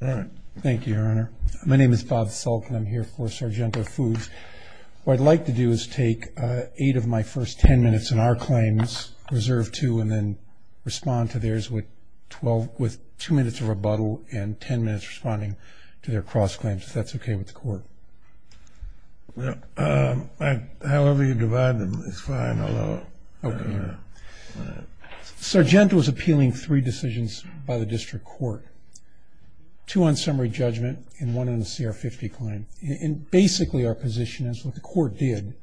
Thank you, Your Honor. My name is Bob Salk and I'm here for Sargento Foods. What I'd like to do is take eight of my first ten minutes in our claims, reserve two, and then respond to theirs with two minutes of rebuttal and ten minutes responding to their cross-claims, if that's okay with the Court. However you divide them is fine, I'll allow it. Sargento was appealing three decisions by the District Court, two on summary judgment and one on the CR-50 claim. And basically our position is what the Court did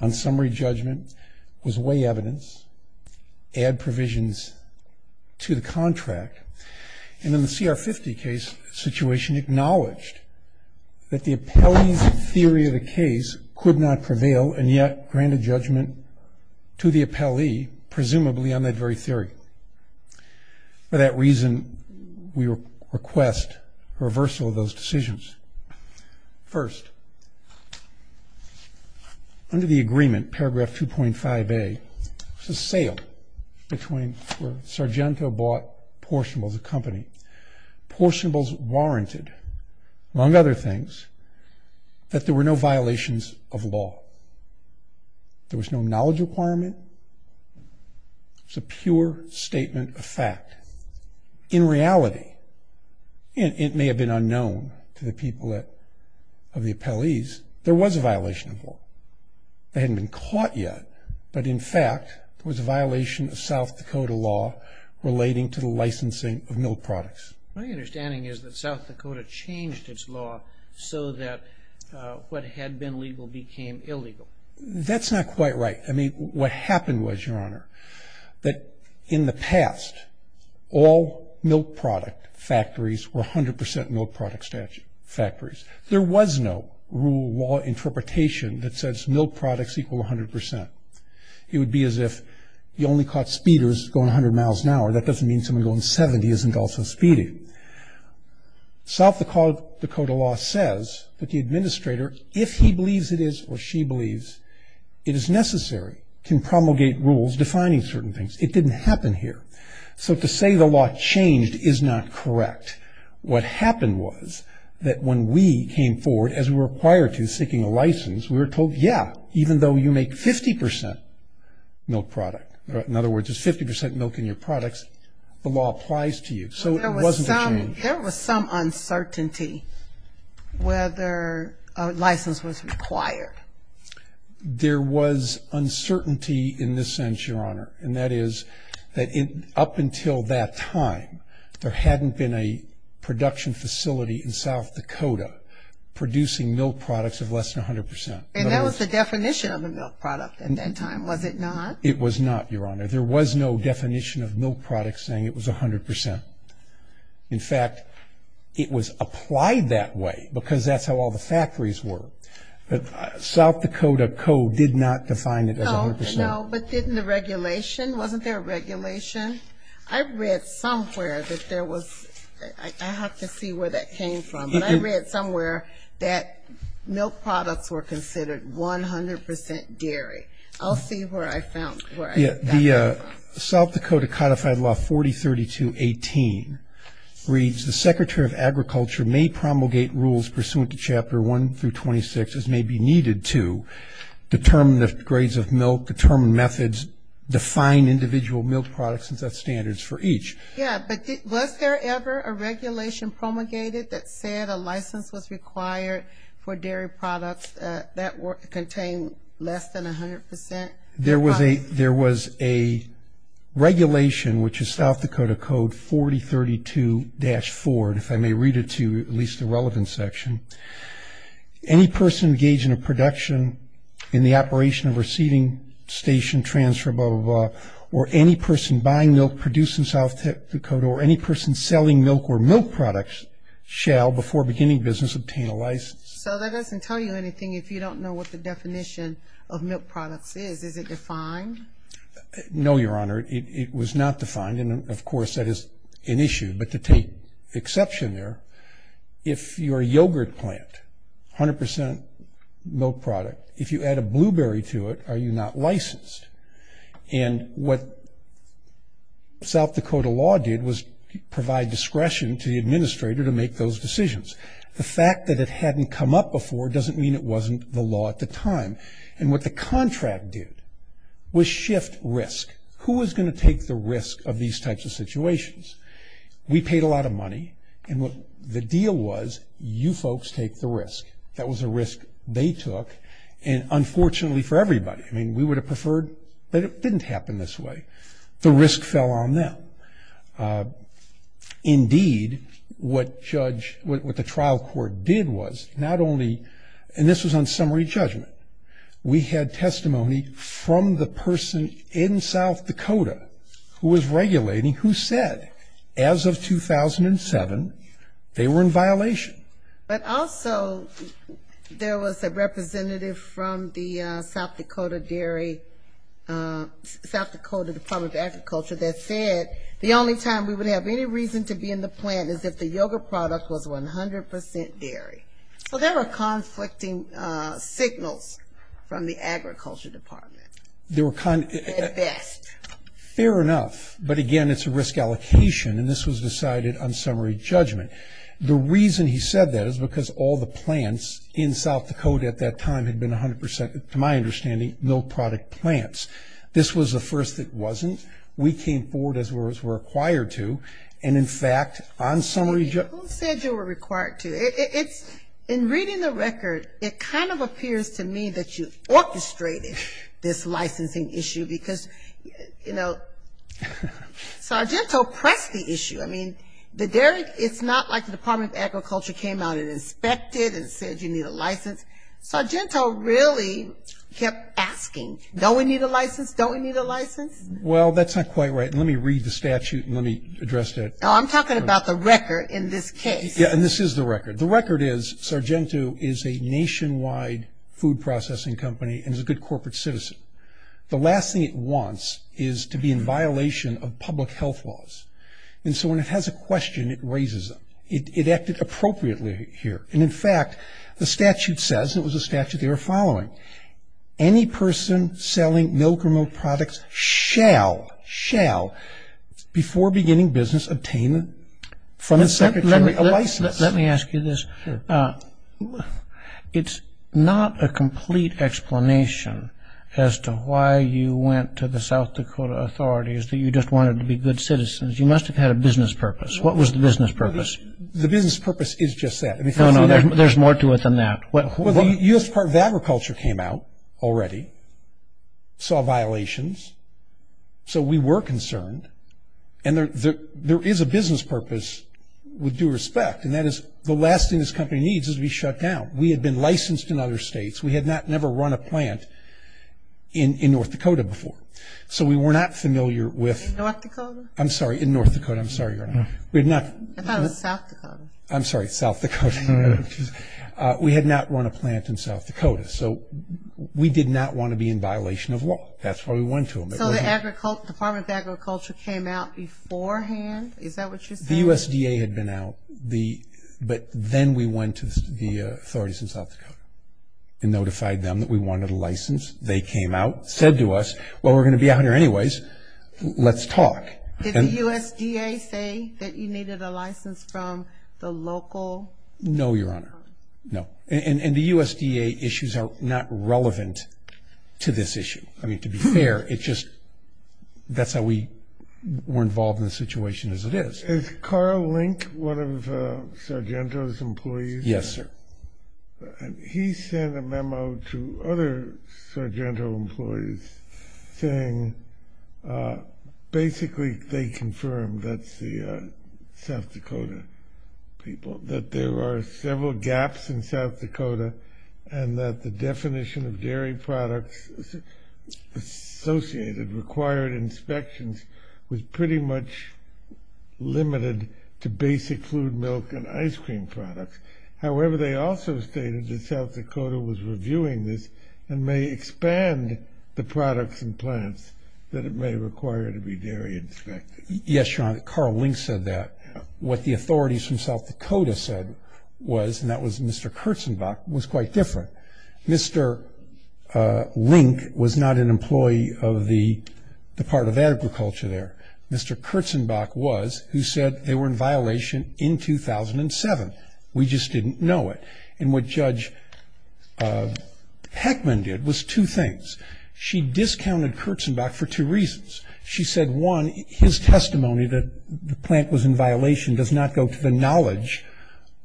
on summary judgment was weigh evidence, add provisions to the contract, and in the CR-50 case, the situation acknowledged that the appellee's theory of the case could not prevail and yet grant a judgment to the appellee, presumably on that very theory. For that reason, we request reversal of those decisions. First, under the agreement, paragraph 2.5a, there was a sale where Sargento bought portionables of the company. Portionables warranted, among other things, that there were no violations of law. There was no knowledge requirement. It's a pure statement of fact. In reality, and it may have been unknown to the people of the appellees, there was a violation of law. They hadn't been caught yet, but in fact, there was a violation of South Dakota law relating to the licensing of milk products. My understanding is that South Dakota changed its law so that what had been legal became illegal. That's not quite right. I mean, what happened was, Your Honor, that in the past, all milk product factories were 100% milk product factories. There was no rule of law interpretation that says milk products equal 100%. It would be as if you only caught speeders going 100 miles an hour. That doesn't mean someone going 70 isn't also speeding. South Dakota law says that the administrator, if he believes it is or she believes, it is necessary, can promulgate rules defining certain things. It didn't happen here. So to say the law changed is not correct. What happened was that when we came forward, as we were required to, seeking a license, we were told, yeah, even though you make 50% milk product, in other words it's 50% milk in your products, the law applies to you. So it wasn't a change. There was some uncertainty whether a license was required. There was uncertainty in this sense, Your Honor, and that is that up until that time there hadn't been a production facility in South Dakota producing milk products of less than 100%. And that was the definition of a milk product at that time, was it not? It was not, Your Honor. There was no definition of milk products saying it was 100%. In fact, it was applied that way because that's how all the factories were. South Dakota code did not define it as 100%. No, but didn't the regulation, wasn't there a regulation? I read somewhere that there was, I have to see where that came from, but I read somewhere that milk products were considered 100% dairy. I'll see where I found that. The South Dakota Codified Law 4032-18 reads, the Secretary of Agriculture may promulgate rules pursuant to Chapter 1 through 26, as may be needed to, determine the grades of milk, determine methods, define individual milk products and set standards for each. Yeah, but was there ever a regulation promulgated that said a license was required for dairy products that contained less than 100%? There was a regulation, which is South Dakota Code 4032-4, and if I may read it to you, at least the relevant section. Any person engaged in a production in the operation of a seeding station, or any person buying milk produced in South Dakota, or any person selling milk or milk products shall, before beginning business, obtain a license. So that doesn't tell you anything if you don't know what the definition of milk products is. Is it defined? No, Your Honor, it was not defined, and, of course, that is an issue. But to take exception there, if you're a yogurt plant, 100% milk product, if you add a blueberry to it, are you not licensed? And what South Dakota law did was provide discretion to the administrator to make those decisions. The fact that it hadn't come up before doesn't mean it wasn't the law at the time. And what the contract did was shift risk. Who was going to take the risk of these types of situations? We paid a lot of money, and what the deal was, you folks take the risk. That was a risk they took. And, unfortunately for everybody, I mean, we would have preferred that it didn't happen this way. The risk fell on them. Indeed, what the trial court did was not only, and this was on summary judgment, we had testimony from the person in South Dakota who was regulating who said, as of 2007, they were in violation. But also there was a representative from the South Dakota dairy, South Dakota Department of Agriculture that said the only time we would have any reason to be in the plant is if the yogurt product was 100% dairy. So there were conflicting signals from the agriculture department. At best. Fair enough. But, again, it's a risk allocation, and this was decided on summary judgment. The reason he said that is because all the plants in South Dakota at that time had been 100%, to my understanding, milk product plants. This was the first that wasn't. We came forward as we were required to, and, in fact, on summary judgment. Who said you were required to? In reading the record, it kind of appears to me that you orchestrated this licensing issue, because, you know, Sargento pressed the issue. I mean, the dairy, it's not like the Department of Agriculture came out and inspected and said you need a license. Sargento really kept asking, don't we need a license? Don't we need a license? Well, that's not quite right, and let me read the statute and let me address that. No, I'm talking about the record in this case. Yeah, and this is the record. The record is Sargento is a nationwide food processing company and is a good corporate citizen. The last thing it wants is to be in violation of public health laws. And so when it has a question, it raises it. It acted appropriately here. And, in fact, the statute says, and it was a statute they were following, any person selling milk or milk products shall, shall, before beginning business, obtain from the secretary a license. Let me ask you this. Sure. It's not a complete explanation as to why you went to the South Dakota authorities, that you just wanted to be good citizens. You must have had a business purpose. What was the business purpose? The business purpose is just that. No, no, there's more to it than that. Well, the U.S. Department of Agriculture came out already, saw violations, so we were concerned. And there is a business purpose with due respect, and that is the last thing this company needs is to be shut down. We had been licensed in other states. We had never run a plant in North Dakota before. So we were not familiar with. In North Dakota? I'm sorry, in North Dakota. I'm sorry, Your Honor. I thought it was South Dakota. I'm sorry, South Dakota. We had not run a plant in South Dakota. So we did not want to be in violation of law. That's why we went to them. So the Department of Agriculture came out beforehand? Is that what you're saying? The USDA had been out, but then we went to the authorities in South Dakota and notified them that we wanted a license. They came out, said to us, well, we're going to be out here anyways. Let's talk. Did the USDA say that you needed a license from the local? No, Your Honor. No. And the USDA issues are not relevant to this issue. I mean, to be fair, it's just that's how we were involved in the situation as it is. Is Carl Link one of Sargento's employees? Yes, sir. He sent a memo to other Sargento employees saying basically they confirmed, that's the South Dakota people, that there are several gaps in South Dakota and that the definition of dairy products associated required inspections was pretty much limited to basic fluid milk and ice cream products. However, they also stated that South Dakota was reviewing this and may expand the products and plants that it may require to be dairy inspected. Yes, Your Honor, Carl Link said that. What the authorities from South Dakota said was, and that was Mr. Kurtzenbach, was quite different. Mr. Link was not an employee of the Department of Agriculture there. Mr. Kurtzenbach was, who said they were in violation in 2007. We just didn't know it. And what Judge Heckman did was two things. She discounted Kurtzenbach for two reasons. She said, one, his testimony that the plant was in violation does not go to the knowledge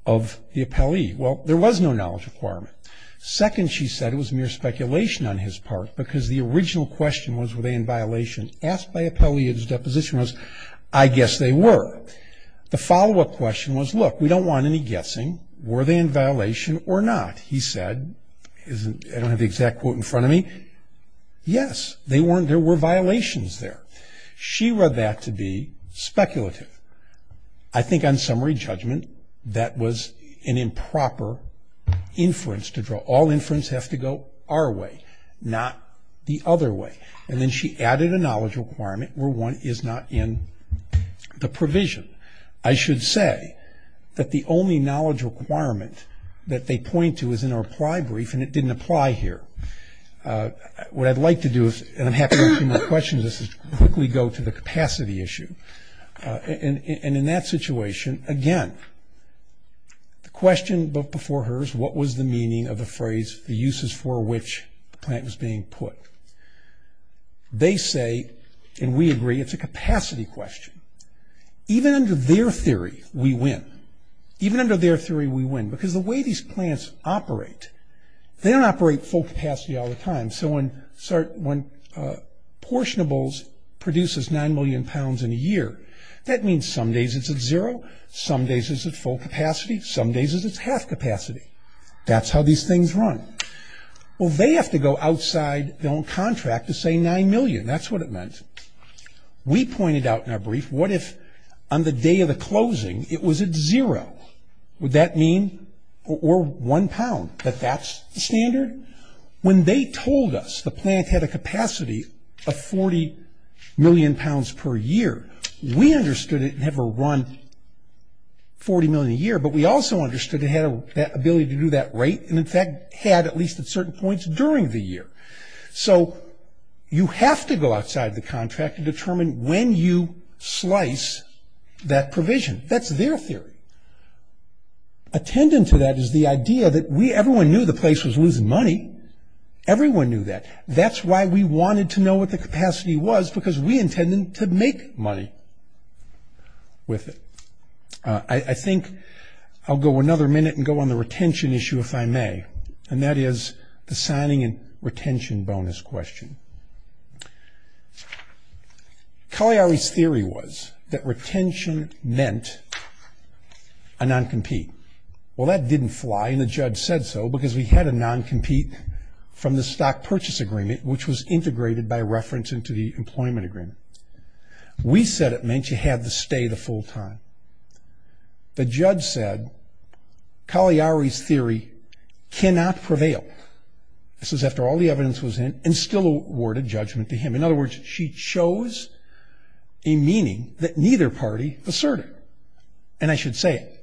of the appellee. Well, there was no knowledge requirement. Second, she said, it was mere speculation on his part because the original question was were they in violation. Asked by appellee, his deposition was, I guess they were. The follow-up question was, look, we don't want any guessing. Were they in violation or not? He said, I don't have the exact quote in front of me. Yes, there were violations there. She read that to be speculative. I think on summary judgment, that was an improper inference to draw. All inference have to go our way, not the other way. And then she added a knowledge requirement where one is not in the provision. I should say that the only knowledge requirement that they point to is in our apply brief, and it didn't apply here. What I'd like to do, and I'm happy to answer your questions, is quickly go to the capacity issue. And in that situation, again, the question before her is, what was the meaning of the phrase, the uses for which the plant was being put? They say, and we agree, it's a capacity question. Even under their theory, we win. Even under their theory, we win. Because the way these plants operate, they don't operate full capacity all the time. So when portionables produces 9 million pounds in a year, that means some days it's at zero, some days it's at full capacity, some days it's at half capacity. That's how these things run. Well, they have to go outside their own contract to say 9 million, that's what it meant. We pointed out in our brief, what if on the day of the closing, it was at zero? Would that mean, or one pound, that that's the standard? When they told us the plant had a capacity of 40 million pounds per year, we understood it never run 40 million a year. But we also understood it had that ability to do that rate. And in fact, had at least at certain points during the year. So you have to go outside the contract to determine when you slice that provision. That's their theory. Attendant to that is the idea that everyone knew the place was losing money. Everyone knew that. That's why we wanted to know what the capacity was, because we intended to make money with it. I think I'll go another minute and go on the retention issue if I may. And that is the signing and retention bonus question. Cagliari's theory was that retention meant a non-compete. Well, that didn't fly, and the judge said so. Because we had a non-compete from the stock purchase agreement, which was integrated by reference into the employment agreement. We said it meant you had to stay the full time. The judge said Cagliari's theory cannot prevail. This is after all the evidence was in, and still awarded judgment to him. In other words, she chose a meaning that neither party asserted. And I should say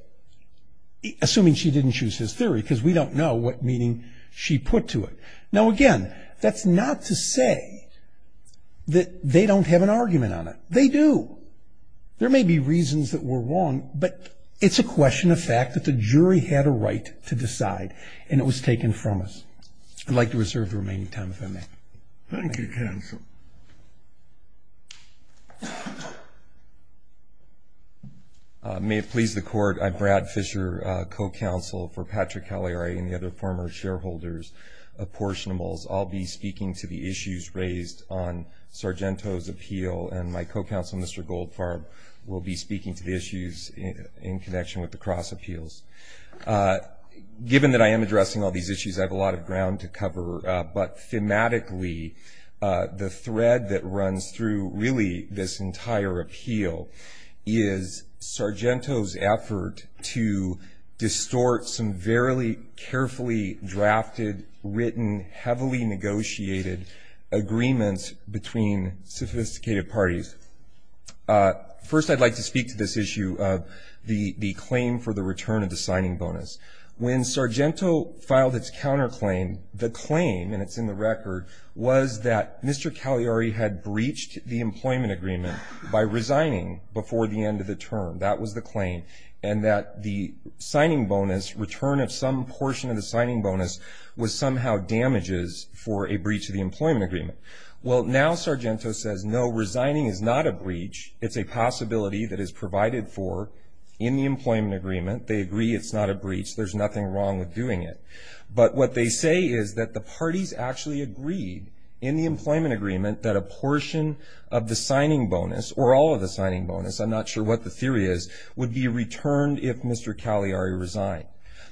it, assuming she didn't choose his theory, because we don't know what meaning she put to it. Now, again, that's not to say that they don't have an argument on it. They do. There may be reasons that were wrong, but it's a question of fact that the jury had a right to decide, and it was taken from us. I'd like to reserve the remaining time if I may. Thank you, Counsel. May it please the Court, I'm Brad Fisher, co-counsel for Patrick Cagliari and the other former shareholders of Portionables. I'll be speaking to the issues raised on Sargento's appeal, and my co-counsel, Mr. Goldfarb, will be speaking to the issues in connection with the Cross appeals. Given that I am addressing all these issues, I have a lot of ground to cover. But thematically, the thread that runs through, really, this entire appeal is Sargento's effort to distort some verily carefully drafted, written, heavily negotiated agreements between sophisticated parties. First, I'd like to speak to this issue of the claim for the return of the signing bonus. When Sargento filed its counterclaim, the claim, and it's in the record, was that Mr. Cagliari had breached the employment agreement by resigning before the end of the term. That was the claim. And that the signing bonus, return of some portion of the signing bonus, was somehow damages for a breach of the employment agreement. Well, now Sargento says, no, resigning is not a breach. It's a possibility that is provided for in the employment agreement. They agree it's not a breach. There's nothing wrong with doing it. But what they say is that the parties actually agreed in the employment agreement that a portion of the signing bonus, or all of the signing bonus, I'm not sure what the theory is, would be returned if Mr. Cagliari resigned.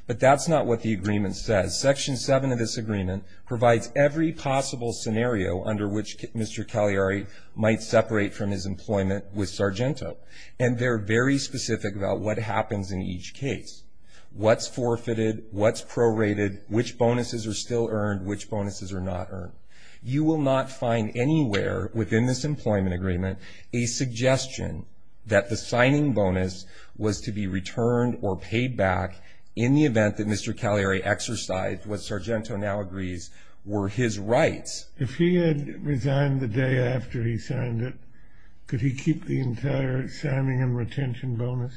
But that's not what the agreement says. Section 7 of this agreement provides every possible scenario under which Mr. Cagliari might separate from his employment with Sargento. And they're very specific about what happens in each case. What's forfeited? What's prorated? Which bonuses are still earned? Which bonuses are not earned? You will not find anywhere within this employment agreement a suggestion that the signing bonus was to be returned or paid back in the event that Mr. Cagliari exercised what Sargento now agrees were his rights. If he had resigned the day after he signed it, could he keep the entire signing and retention bonus?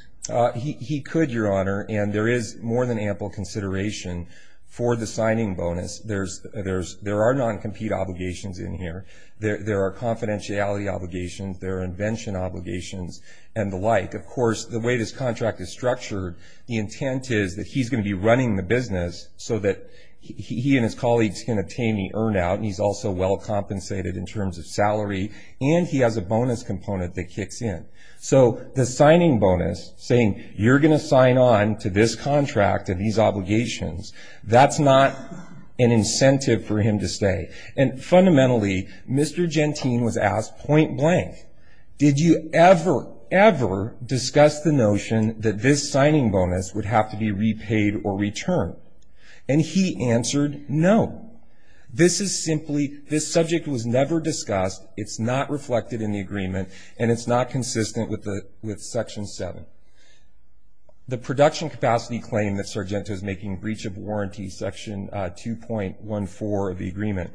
He could, Your Honor. And there is more than ample consideration for the signing bonus. There are non-compete obligations in here. There are confidentiality obligations. There are invention obligations and the like. Of course, the way this contract is structured, the intent is that he's going to be running the business so that he and his colleagues can obtain the earn out, and he's also well compensated in terms of salary, and he has a bonus component that kicks in. So the signing bonus, saying, you're going to sign on to this contract and these obligations, that's not an incentive for him to stay. And fundamentally, Mr. Gentine was asked point blank, did you ever, ever discuss the notion that this signing bonus would have to be repaid or returned? And he answered no. This is simply, this subject was never discussed. It's not reflected in the agreement, and it's not consistent with Section 7. The production capacity claim that Sargento is making breach of warranty, Section 2.14 of the agreement,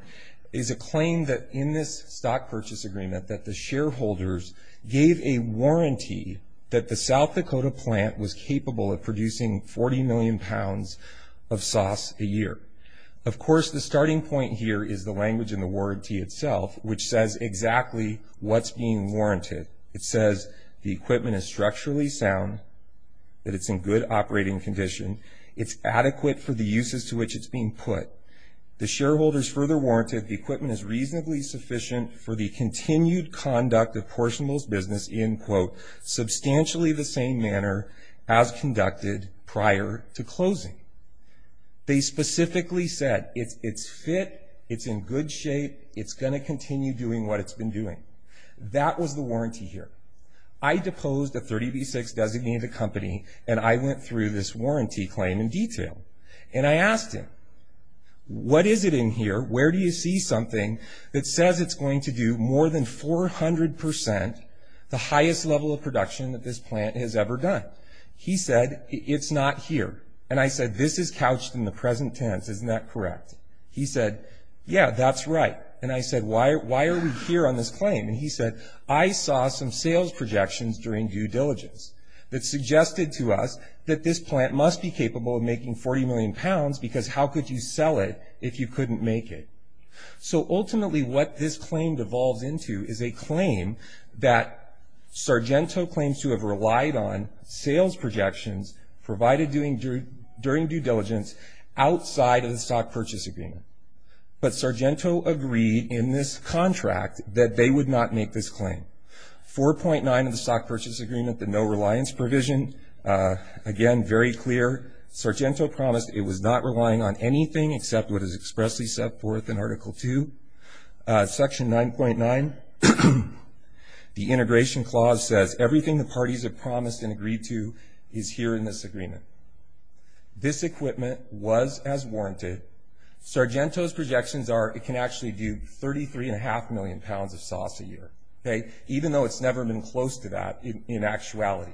is a claim that in this stock purchase agreement that the shareholders gave a warranty that the South Dakota plant was capable of producing 40 million pounds of sauce a year. Of course, the starting point here is the language in the warranty itself, which says exactly what's being warranted. It says the equipment is structurally sound, that it's in good operating condition, it's adequate for the uses to which it's being put. The shareholders further warranted the equipment is reasonably sufficient for the continued conduct of portionables business in, quote, substantially the same manner as conducted prior to closing. They specifically said it's fit, it's in good shape, it's going to continue doing what it's been doing. That was the warranty here. I deposed a 30B6 designated company, and I went through this warranty claim in detail. And I asked him, what is it in here, where do you see something that says it's going to do more than 400%, the highest level of production that this plant has ever done? He said, it's not here. And I said, this is couched in the present tense, isn't that correct? He said, yeah, that's right. And I said, why are we here on this claim? And he said, I saw some sales projections during due diligence that suggested to us that this plant must be capable of making 40 million pounds because how could you sell it if you couldn't make it? So ultimately what this claim devolves into is a claim that Sargento claims to have relied on sales projections provided during due diligence outside of the stock purchase agreement. But Sargento agreed in this contract that they would not make this claim. 4.9 of the stock purchase agreement, the no reliance provision, again, very clear. Sargento promised it was not relying on anything except what is expressly set forth in Article 2, Section 9.9. The integration clause says everything the parties have promised and agreed to is here in this agreement. This equipment was as warranted. Sargento's projections are it can actually do 33.5 million pounds of sauce a year, even though it's never been close to that in actuality.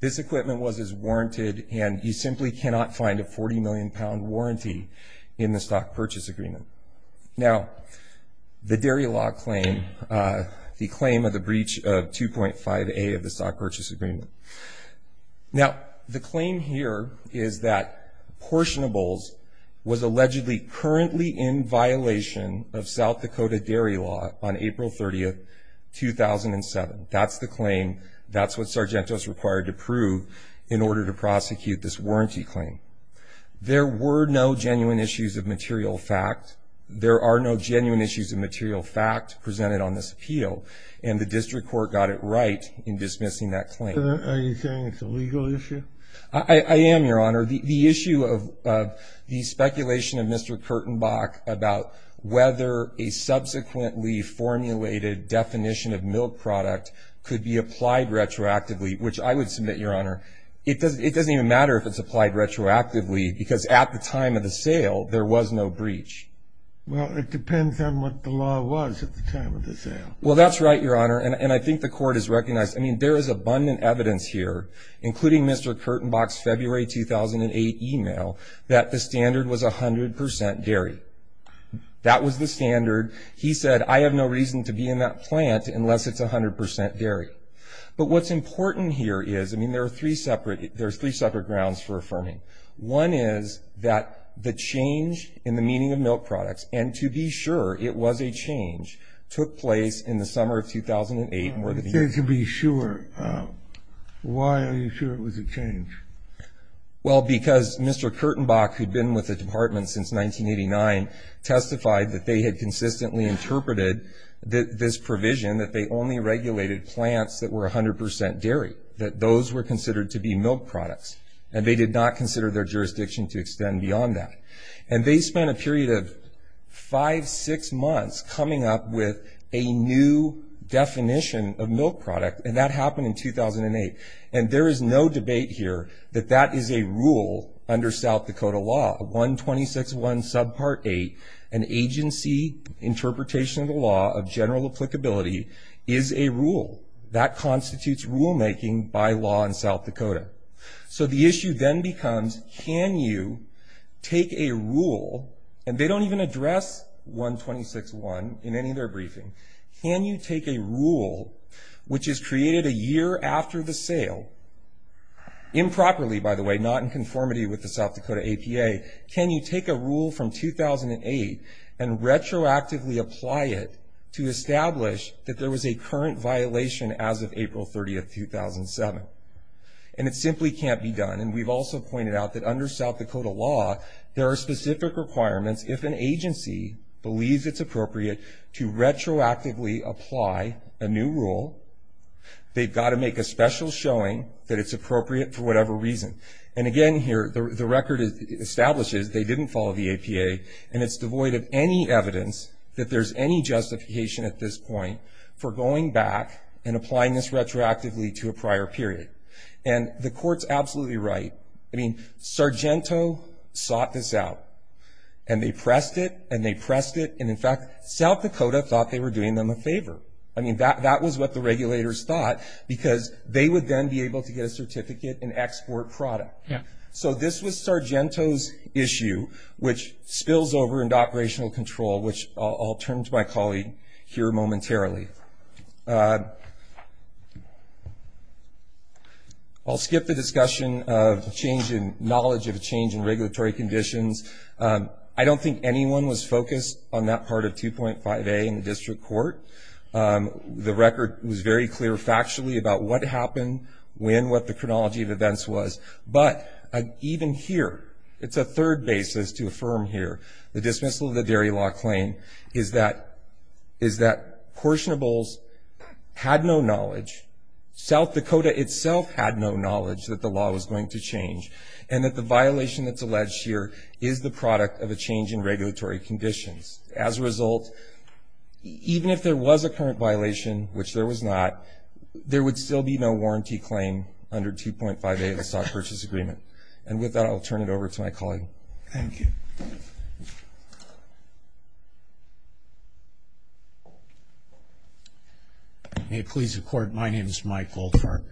This equipment was as warranted, and you simply cannot find a 40 million pound warranty in the stock purchase agreement. Now, the dairy law claim, the claim of the breach of 2.5A of the stock purchase agreement. Now, the claim here is that Portionables was allegedly currently in violation of South Dakota dairy law on April 30, 2007. That's the claim. That's what Sargento's required to prove in order to prosecute this warranty claim. There were no genuine issues of material fact. There are no genuine issues of material fact presented on this appeal, and the district court got it right in dismissing that claim. Are you saying it's a legal issue? I am, Your Honor. The issue of the speculation of Mr. Kurtenbach about whether a subsequently formulated definition of milk product could be applied retroactively, which I would submit, Your Honor, it doesn't even matter if it's applied retroactively because at the time of the sale there was no breach. Well, it depends on what the law was at the time of the sale. Well, that's right, Your Honor, and I think the court has recognized. I mean, there is abundant evidence here, including Mr. Kurtenbach's February 2008 email, that the standard was 100% dairy. That was the standard. He said, I have no reason to be in that plant unless it's 100% dairy. But what's important here is, I mean, there are three separate grounds for affirming. One is that the change in the meaning of milk products, and to be sure it was a change, took place in the summer of 2008. You said to be sure. Why are you sure it was a change? Well, because Mr. Kurtenbach, who'd been with the department since 1989, testified that they had consistently interpreted this provision, that they only regulated plants that were 100% dairy, that those were considered to be milk products, and they did not consider their jurisdiction to extend beyond that. And they spent a period of five, six months coming up with a new definition of milk product, and that happened in 2008. And there is no debate here that that is a rule under South Dakota law. 126.1 subpart 8, an agency interpretation of the law of general applicability, is a rule. That constitutes rulemaking by law in South Dakota. So the issue then becomes, can you take a rule, and they don't even address 126.1 in any of their briefing, can you take a rule, which is created a year after the sale, improperly, by the way, not in conformity with the South Dakota APA, can you take a rule from 2008 and retroactively apply it to establish that there was a current violation as of April 30, 2007? And it simply can't be done. And we've also pointed out that under South Dakota law, there are specific requirements if an agency believes it's appropriate to retroactively apply a new rule, they've got to make a special showing that it's appropriate for whatever reason. And again here, the record establishes they didn't follow the APA, and it's devoid of any evidence that there's any justification at this point for going back and applying this retroactively to a prior period. And the court's absolutely right. I mean, Sargento sought this out, and they pressed it, and they pressed it, and in fact, South Dakota thought they were doing them a favor. I mean, that was what the regulators thought, because they would then be able to get a certificate and export product. Yeah. So this was Sargento's issue, which spills over into operational control, which I'll turn to my colleague here momentarily. I'll skip the discussion of knowledge of a change in regulatory conditions. I don't think anyone was focused on that part of 2.5A in the district court. The record was very clear factually about what happened, when, what the chronology of events was. But even here, it's a third basis to affirm here. The dismissal of the dairy law claim is that portionables had no knowledge. South Dakota itself had no knowledge that the law was going to change, and that the violation that's alleged here is the product of a change in regulatory conditions. As a result, even if there was a current violation, which there was not, there would still be no warranty claim under 2.5A of the stock purchase agreement. And with that, I'll turn it over to my colleague. Thank you. May it please the Court, my name is Mike Goldfarb.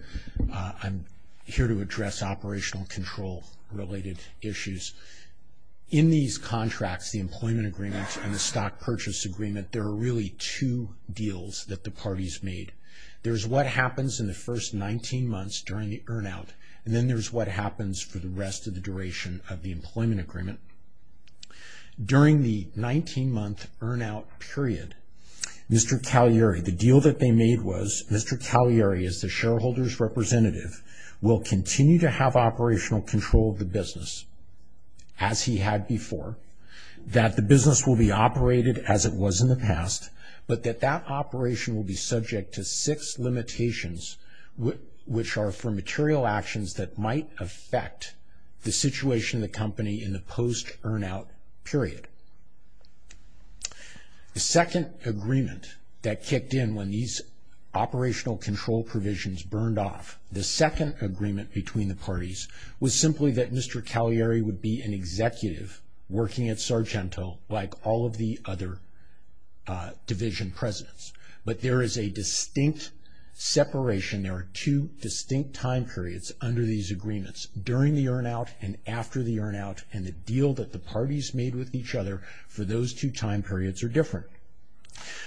I'm here to address operational control-related issues. In these contracts, the employment agreement and the stock purchase agreement, there are really two deals that the parties made. There's what happens in the first 19 months during the earn-out, and then there's what happens for the rest of the duration of the employment agreement. During the 19-month earn-out period, Mr. Cagliari, the deal that they made was, Mr. Cagliari, as the shareholder's representative, will continue to have operational control of the business as he had before, that the business will be operated as it was in the past, but that that operation will be subject to six limitations, which are for material actions that might affect the situation of the company in the post-earn-out period. The second agreement that kicked in when these operational control provisions burned off, the second agreement between the parties, was simply that Mr. Cagliari would be an executive working at Sargento, like all of the other division presidents. But there is a distinct separation, there are two distinct time periods under these agreements, during the earn-out and after the earn-out, and the deal that the parties made with each other for those two time periods are different.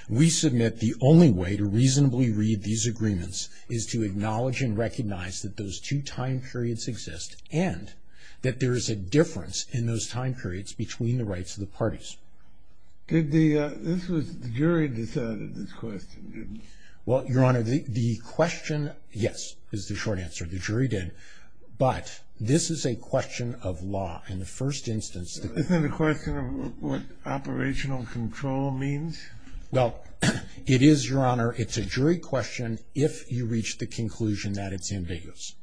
We submit the only way to reasonably read these agreements is to acknowledge and recognize that those two time periods exist, and that there is a difference in those time periods between the rights of the parties. Did the, this was, the jury decided this question, didn't it? Well, Your Honor, the question, yes, is the short answer, the jury did, but this is a question of law in the first instance. Isn't it a question of what operational control means? Well, it is, Your Honor, it's a jury question if you reach the conclusion that it's ambiguous.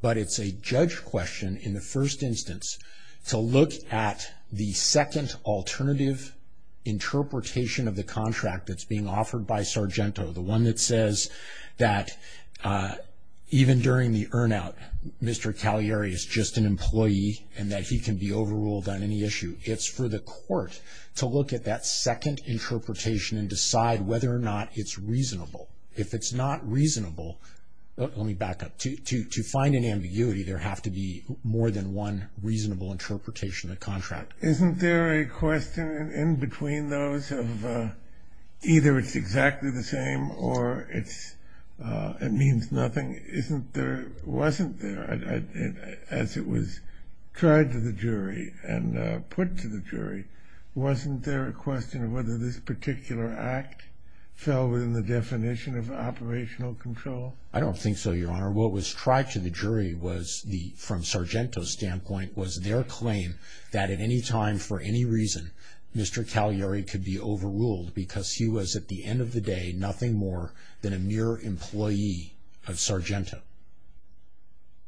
But it's a judge question in the first instance to look at the second alternative interpretation of the contract that's being offered by Sargento, the one that says that even during the earn-out, Mr. Cagliari is just an employee and that he can be overruled on any issue. It's for the court to look at that second interpretation and decide whether or not it's reasonable. If it's not reasonable, let me back up, to find an ambiguity, there have to be more than one reasonable interpretation of the contract. Isn't there a question in between those of either it's exactly the same or it's, it means nothing? Isn't there, wasn't there, as it was tried to the jury and put to the jury, wasn't there a question of whether this particular act fell within the definition of operational control? I don't think so, Your Honor. What was tried to the jury was the, from Sargento's standpoint, it was their claim that at any time, for any reason, Mr. Cagliari could be overruled because he was, at the end of the day, nothing more than a mere employee of Sargento.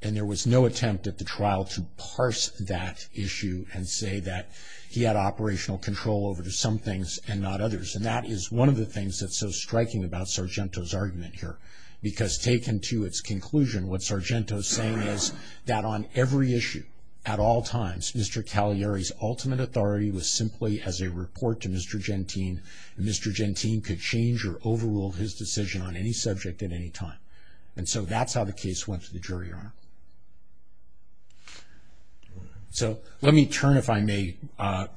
And there was no attempt at the trial to parse that issue and say that he had operational control over some things and not others. And that is one of the things that's so striking about Sargento's argument here because taken to its conclusion, what Sargento's saying is that on every issue, at all times, Mr. Cagliari's ultimate authority was simply as a report to Mr. Gentine, and Mr. Gentine could change or overrule his decision on any subject at any time. And so that's how the case went to the jury, Your Honor. So let me turn, if I may,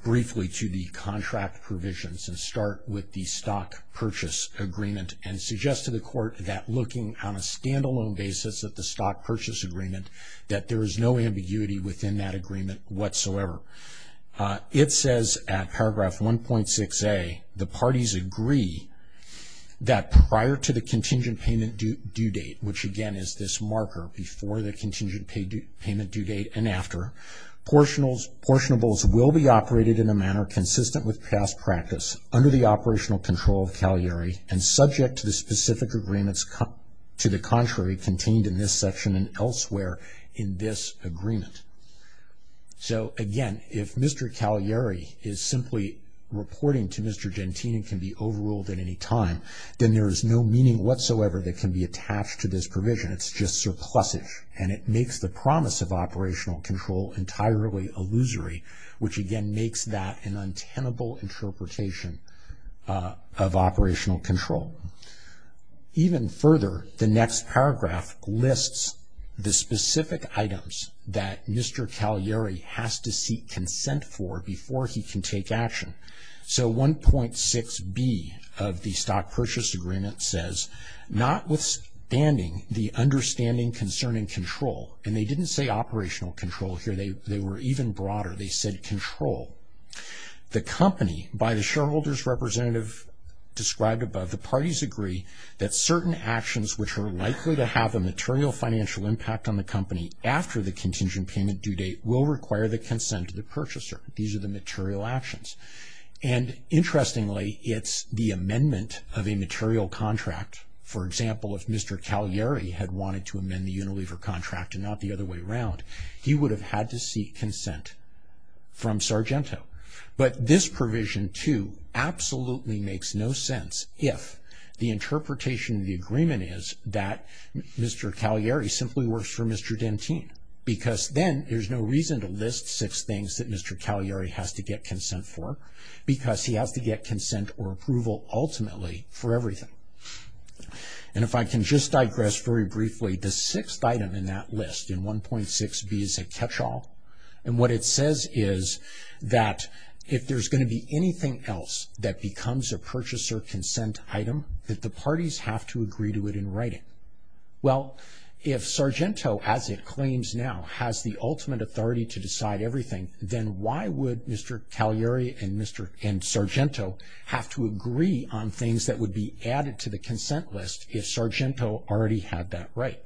briefly to the contract provisions and start with the stock purchase agreement and suggest to the court that looking on a standalone basis at the stock purchase agreement, that there is no ambiguity within that agreement whatsoever. It says at paragraph 1.6a, the parties agree that prior to the contingent payment due date, which again is this marker before the contingent payment due date and after, portionables will be operated in a manner consistent with past practice under the operational control of Cagliari and subject to the specific agreements to the contrary contained in this section and elsewhere in this agreement. So again, if Mr. Cagliari is simply reporting to Mr. Gentine and can be overruled at any time, then there is no meaning whatsoever that can be attached to this provision. It's just surplusage and it makes the promise of operational control entirely illusory, which again makes that an untenable interpretation of operational control. Even further, the next paragraph lists the specific items that Mr. Cagliari has to seek consent for before he can take action. So 1.6b of the stock purchase agreement says, notwithstanding the understanding concerning control, and they didn't say operational control here, they were even broader, they said control. The company, by the shareholder's representative described above, the parties agree that certain actions which are likely to have a material financial impact on the company after the contingent payment due date will require the consent of the purchaser. These are the material actions. And interestingly, it's the amendment of a material contract. For example, if Mr. Cagliari had wanted to amend the Unilever contract and not the other way around, he would have had to seek consent from Sargento. But this provision 2 absolutely makes no sense if the interpretation of the agreement is that Mr. Cagliari simply works for Mr. Gentine, because then there's no reason to list six things that Mr. Cagliari has to get consent for, because he has to get consent or approval ultimately for everything. And if I can just digress very briefly, the sixth item in that list in 1.6b is a catch-all. And what it says is that if there's going to be anything else that becomes a purchaser consent item, that the parties have to agree to it in writing. Well, if Sargento, as it claims now, has the ultimate authority to decide everything, then why would Mr. Cagliari and Sargento have to agree on things that would be added to the consent list if Sargento already had that right?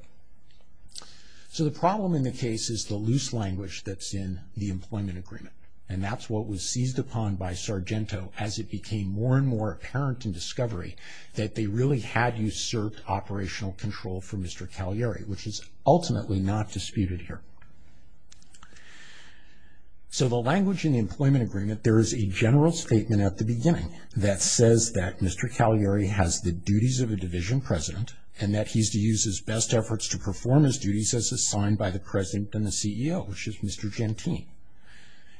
So the problem in the case is the loose language that's in the employment agreement. And that's what was seized upon by Sargento as it became more and more apparent in discovery that they really had usurped operational control for Mr. Cagliari, which is ultimately not disputed here. So the language in the employment agreement, there is a general statement at the beginning that says that Mr. Cagliari has the duties of a division president and that he's to use his best efforts to perform his duties as assigned by the president and the CEO, which is Mr. Gentine.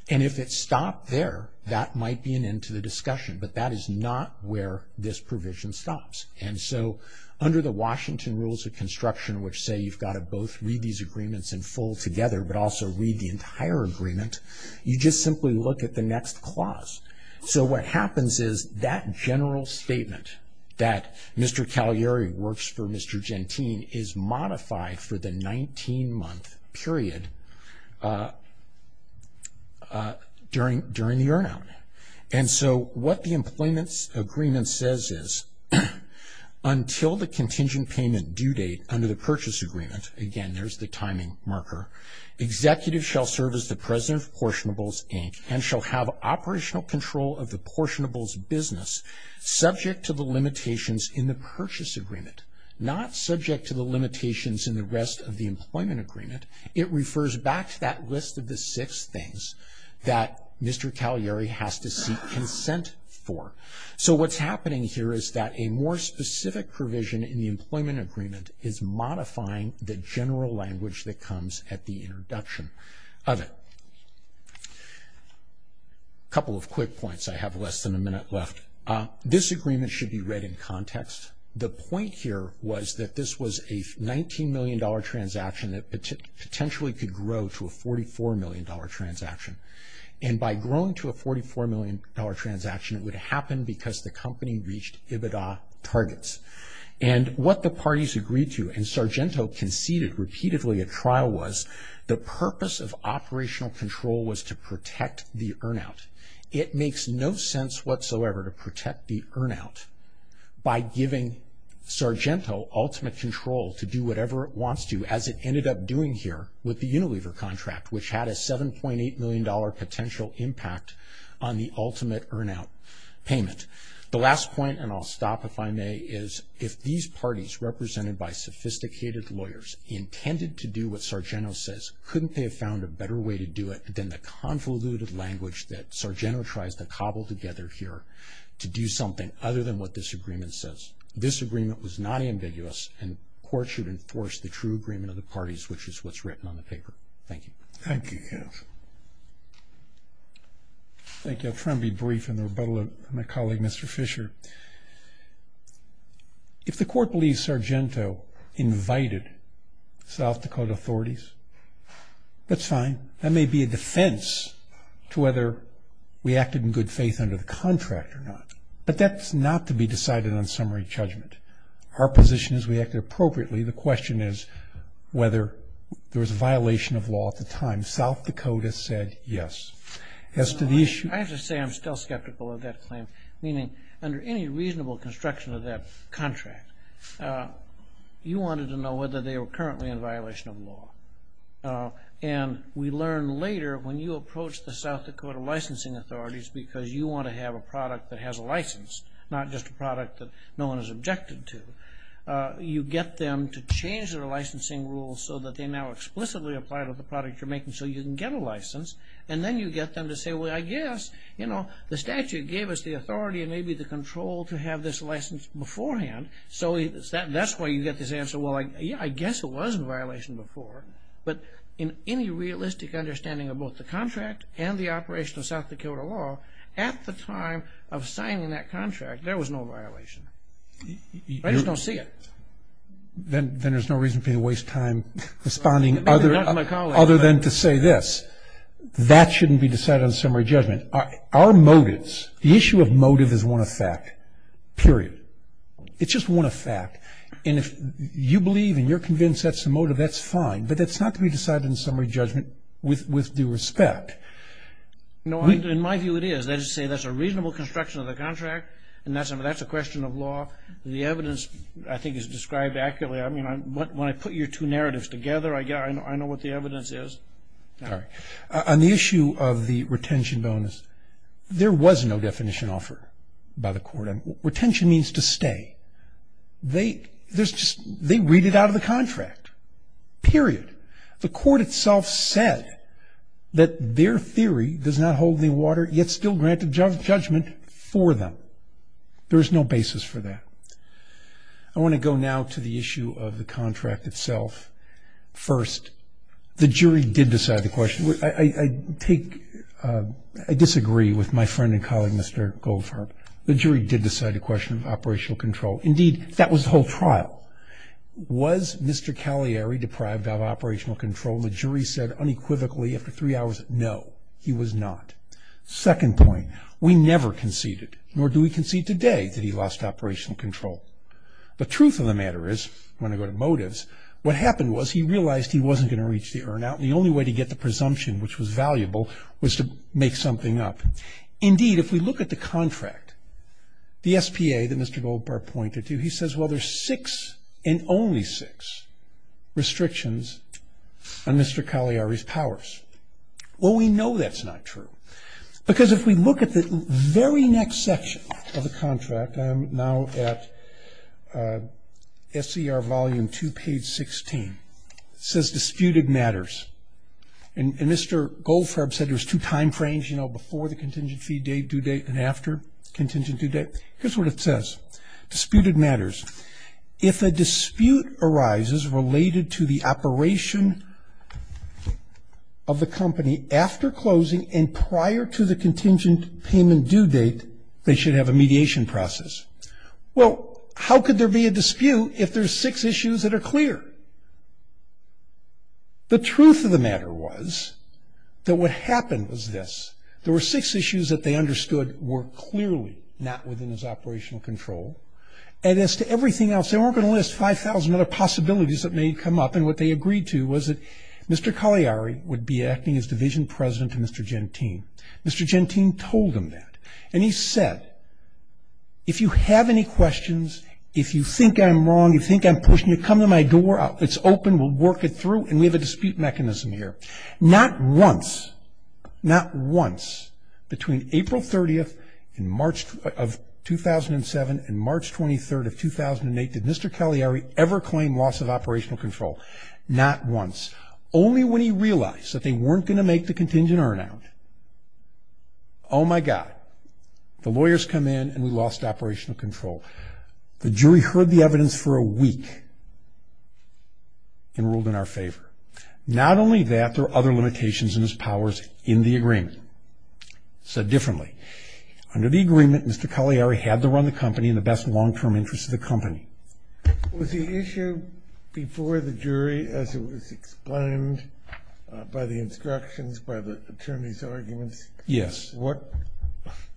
And if it stopped there, that might be an end to the discussion, but that is not where this provision stops. And so under the Washington Rules of Construction, which say you've got to both read these agreements in full together, but also read the entire agreement, you just simply look at the next clause. So what happens is that general statement that Mr. Cagliari works for Mr. Gentine is modified for the 19-month period during the earn-out. And so what the employment agreement says is, until the contingent payment due date under the purchase agreement, again, there's the timing marker, executive shall serve as the president of Portionables, Inc., and shall have operational control of the Portionables business subject to the limitations in the purchase agreement, not subject to the limitations in the rest of the employment agreement. It refers back to that list of the six things that Mr. Cagliari has to seek consent for. So what's happening here is that a more specific provision in the employment agreement is modifying the general language that comes at the introduction of it. A couple of quick points, I have less than a minute left. This agreement should be read in context. The point here was that this was a $19 million transaction that potentially could grow to a $44 million transaction. And by growing to a $44 million transaction, it would happen because the company reached EBITDA targets. And what the parties agreed to, and Sargento conceded repeatedly at trial, was the purpose of operational control was to protect the earn-out. It makes no sense whatsoever to protect the earn-out by giving Sargento ultimate control to do whatever it wants to, as it ended up doing here with the Unilever contract, which had a $7.8 million potential impact on the ultimate earn-out payment. The last point, and I'll stop if I may, is if these parties represented by sophisticated lawyers intended to do what Sargento says, couldn't they have found a better way to do it than the convoluted language that Sargento tries to cobble together here to do something other than what this agreement says? This agreement was not ambiguous, and court should enforce the true agreement of the parties, which is what's written on the paper. Thank you. Thank you, Jeff. Thank you. I'll try and be brief in the rebuttal of my colleague, Mr. Fisher. If the court believes Sargento invited South Dakota authorities, that's fine. That may be a defense to whether we acted in good faith under the contract or not, but that's not to be decided on summary judgment. Our position is we acted appropriately. The question is whether there was a violation of law at the time. South Dakota said yes. I have to say I'm still skeptical of that claim, meaning under any reasonable construction of that contract, you wanted to know whether they were currently in violation of law, and we learned later when you approach the South Dakota licensing authorities because you want to have a product that has a license, not just a product that no one is objected to, you get them to change their licensing rules so that they now explicitly apply to the product you're making so you can get a license, and then you get them to say, well, I guess, you know, the statute gave us the authority and maybe the control to have this license beforehand, so that's why you get this answer. Well, yeah, I guess it was a violation before, but in any realistic understanding of both the contract and the operation of South Dakota law at the time of signing that contract, there was no violation. I just don't see it. Then there's no reason for you to waste time responding other than to say this. That shouldn't be decided on summary judgment. Our motives, the issue of motive is one of fact, period. It's just one of fact. And if you believe and you're convinced that's the motive, that's fine, but that's not to be decided in summary judgment with due respect. No, in my view it is. They just say that's a reasonable construction of the contract and that's a question of law. The evidence, I think, is described accurately. I mean, when I put your two narratives together, I know what the evidence is. All right. On the issue of the retention bonus, there was no definition offered by the court. Retention means to stay. They read it out of the contract, period. The court itself said that their theory does not hold any water, yet still granted judgment for them. There is no basis for that. I want to go now to the issue of the contract itself first. The jury did decide the question. I disagree with my friend and colleague, Mr. Goldfarb. The jury did decide the question of operational control. Indeed, that was the whole trial. Was Mr. Cagliari deprived of operational control? The jury said unequivocally after three hours, no, he was not. Second point, we never conceded, nor do we concede today that he lost operational control. But truth of the matter is, when I go to motives, what happened was he realized he wasn't going to reach the earn out, and the only way to get the presumption, which was valuable, was to make something up. Indeed, if we look at the contract, the SPA that Mr. Goldfarb pointed to, he says, well, there's six and only six restrictions on Mr. Cagliari's powers. Well, we know that's not true, because if we look at the very next section of the contract, I am now at SCR volume 2, page 16. It says disputed matters. And Mr. Goldfarb said there's two time frames, you know, before the contingent fee date, due date, and after contingent due date. Here's what it says, disputed matters. If a dispute arises related to the operation of the company after closing and prior to the contingent payment due date, they should have a mediation process. Well, how could there be a dispute if there's six issues that are clear? The truth of the matter was that what happened was this. There were six issues that they understood were clearly not within his operational control, and as to everything else, they weren't going to list 5,000 other possibilities that may come up, and what they agreed to was that Mr. Cagliari would be acting as division president to Mr. Gentine. Mr. Gentine told him that, and he said, if you have any questions, if you think I'm wrong, if you think I'm pushing it, come to my door, it's open, we'll work it through, and we have a dispute mechanism here. Not once, not once, between April 30th of 2007 and March 23rd of 2008, did Mr. Cagliari ever claim loss of operational control. Not once. Only when he realized that they weren't going to make the contingent earn out. Oh, my God. The lawyers come in, and we lost operational control. The jury heard the evidence for a week and ruled in our favor. Not only that, there are other limitations in his powers in the agreement. Said differently. Under the agreement, Mr. Cagliari had to run the company in the best long-term interest of the company. Was the issue before the jury, as it was explained by the instructions, by the attorney's arguments? Yes. What?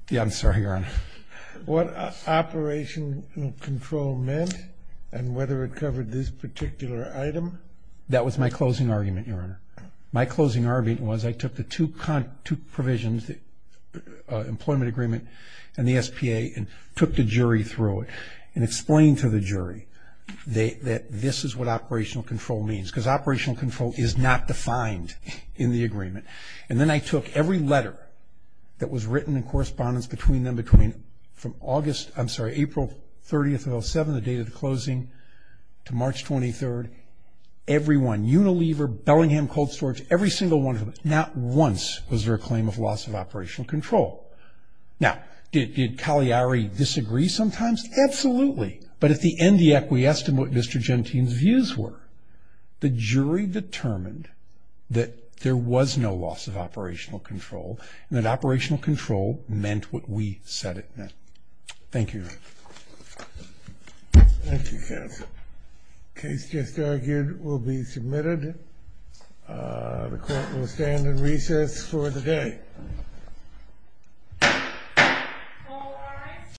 Yeah, I'm sorry, Your Honor. What operational control meant and whether it covered this particular item? That was my closing argument, Your Honor. My closing argument was I took the two provisions, the employment agreement and the SPA, and took the jury through it and explained to the jury that this is what operational control means, and then I took every letter that was written in correspondence between them from April 30th of 2007, the date of the closing, to March 23rd. Every one. Unilever, Bellingham Cold Storage, every single one of them. Not once was there a claim of loss of operational control. Now, did Cagliari disagree sometimes? Absolutely. But at the end, he acquiesced in what Mr. Gentine's views were. The jury determined that there was no loss of operational control and that operational control meant what we said it meant. Thank you, Your Honor. Thank you, counsel. The case just argued will be submitted. The court will stand in recess for the day. All rise.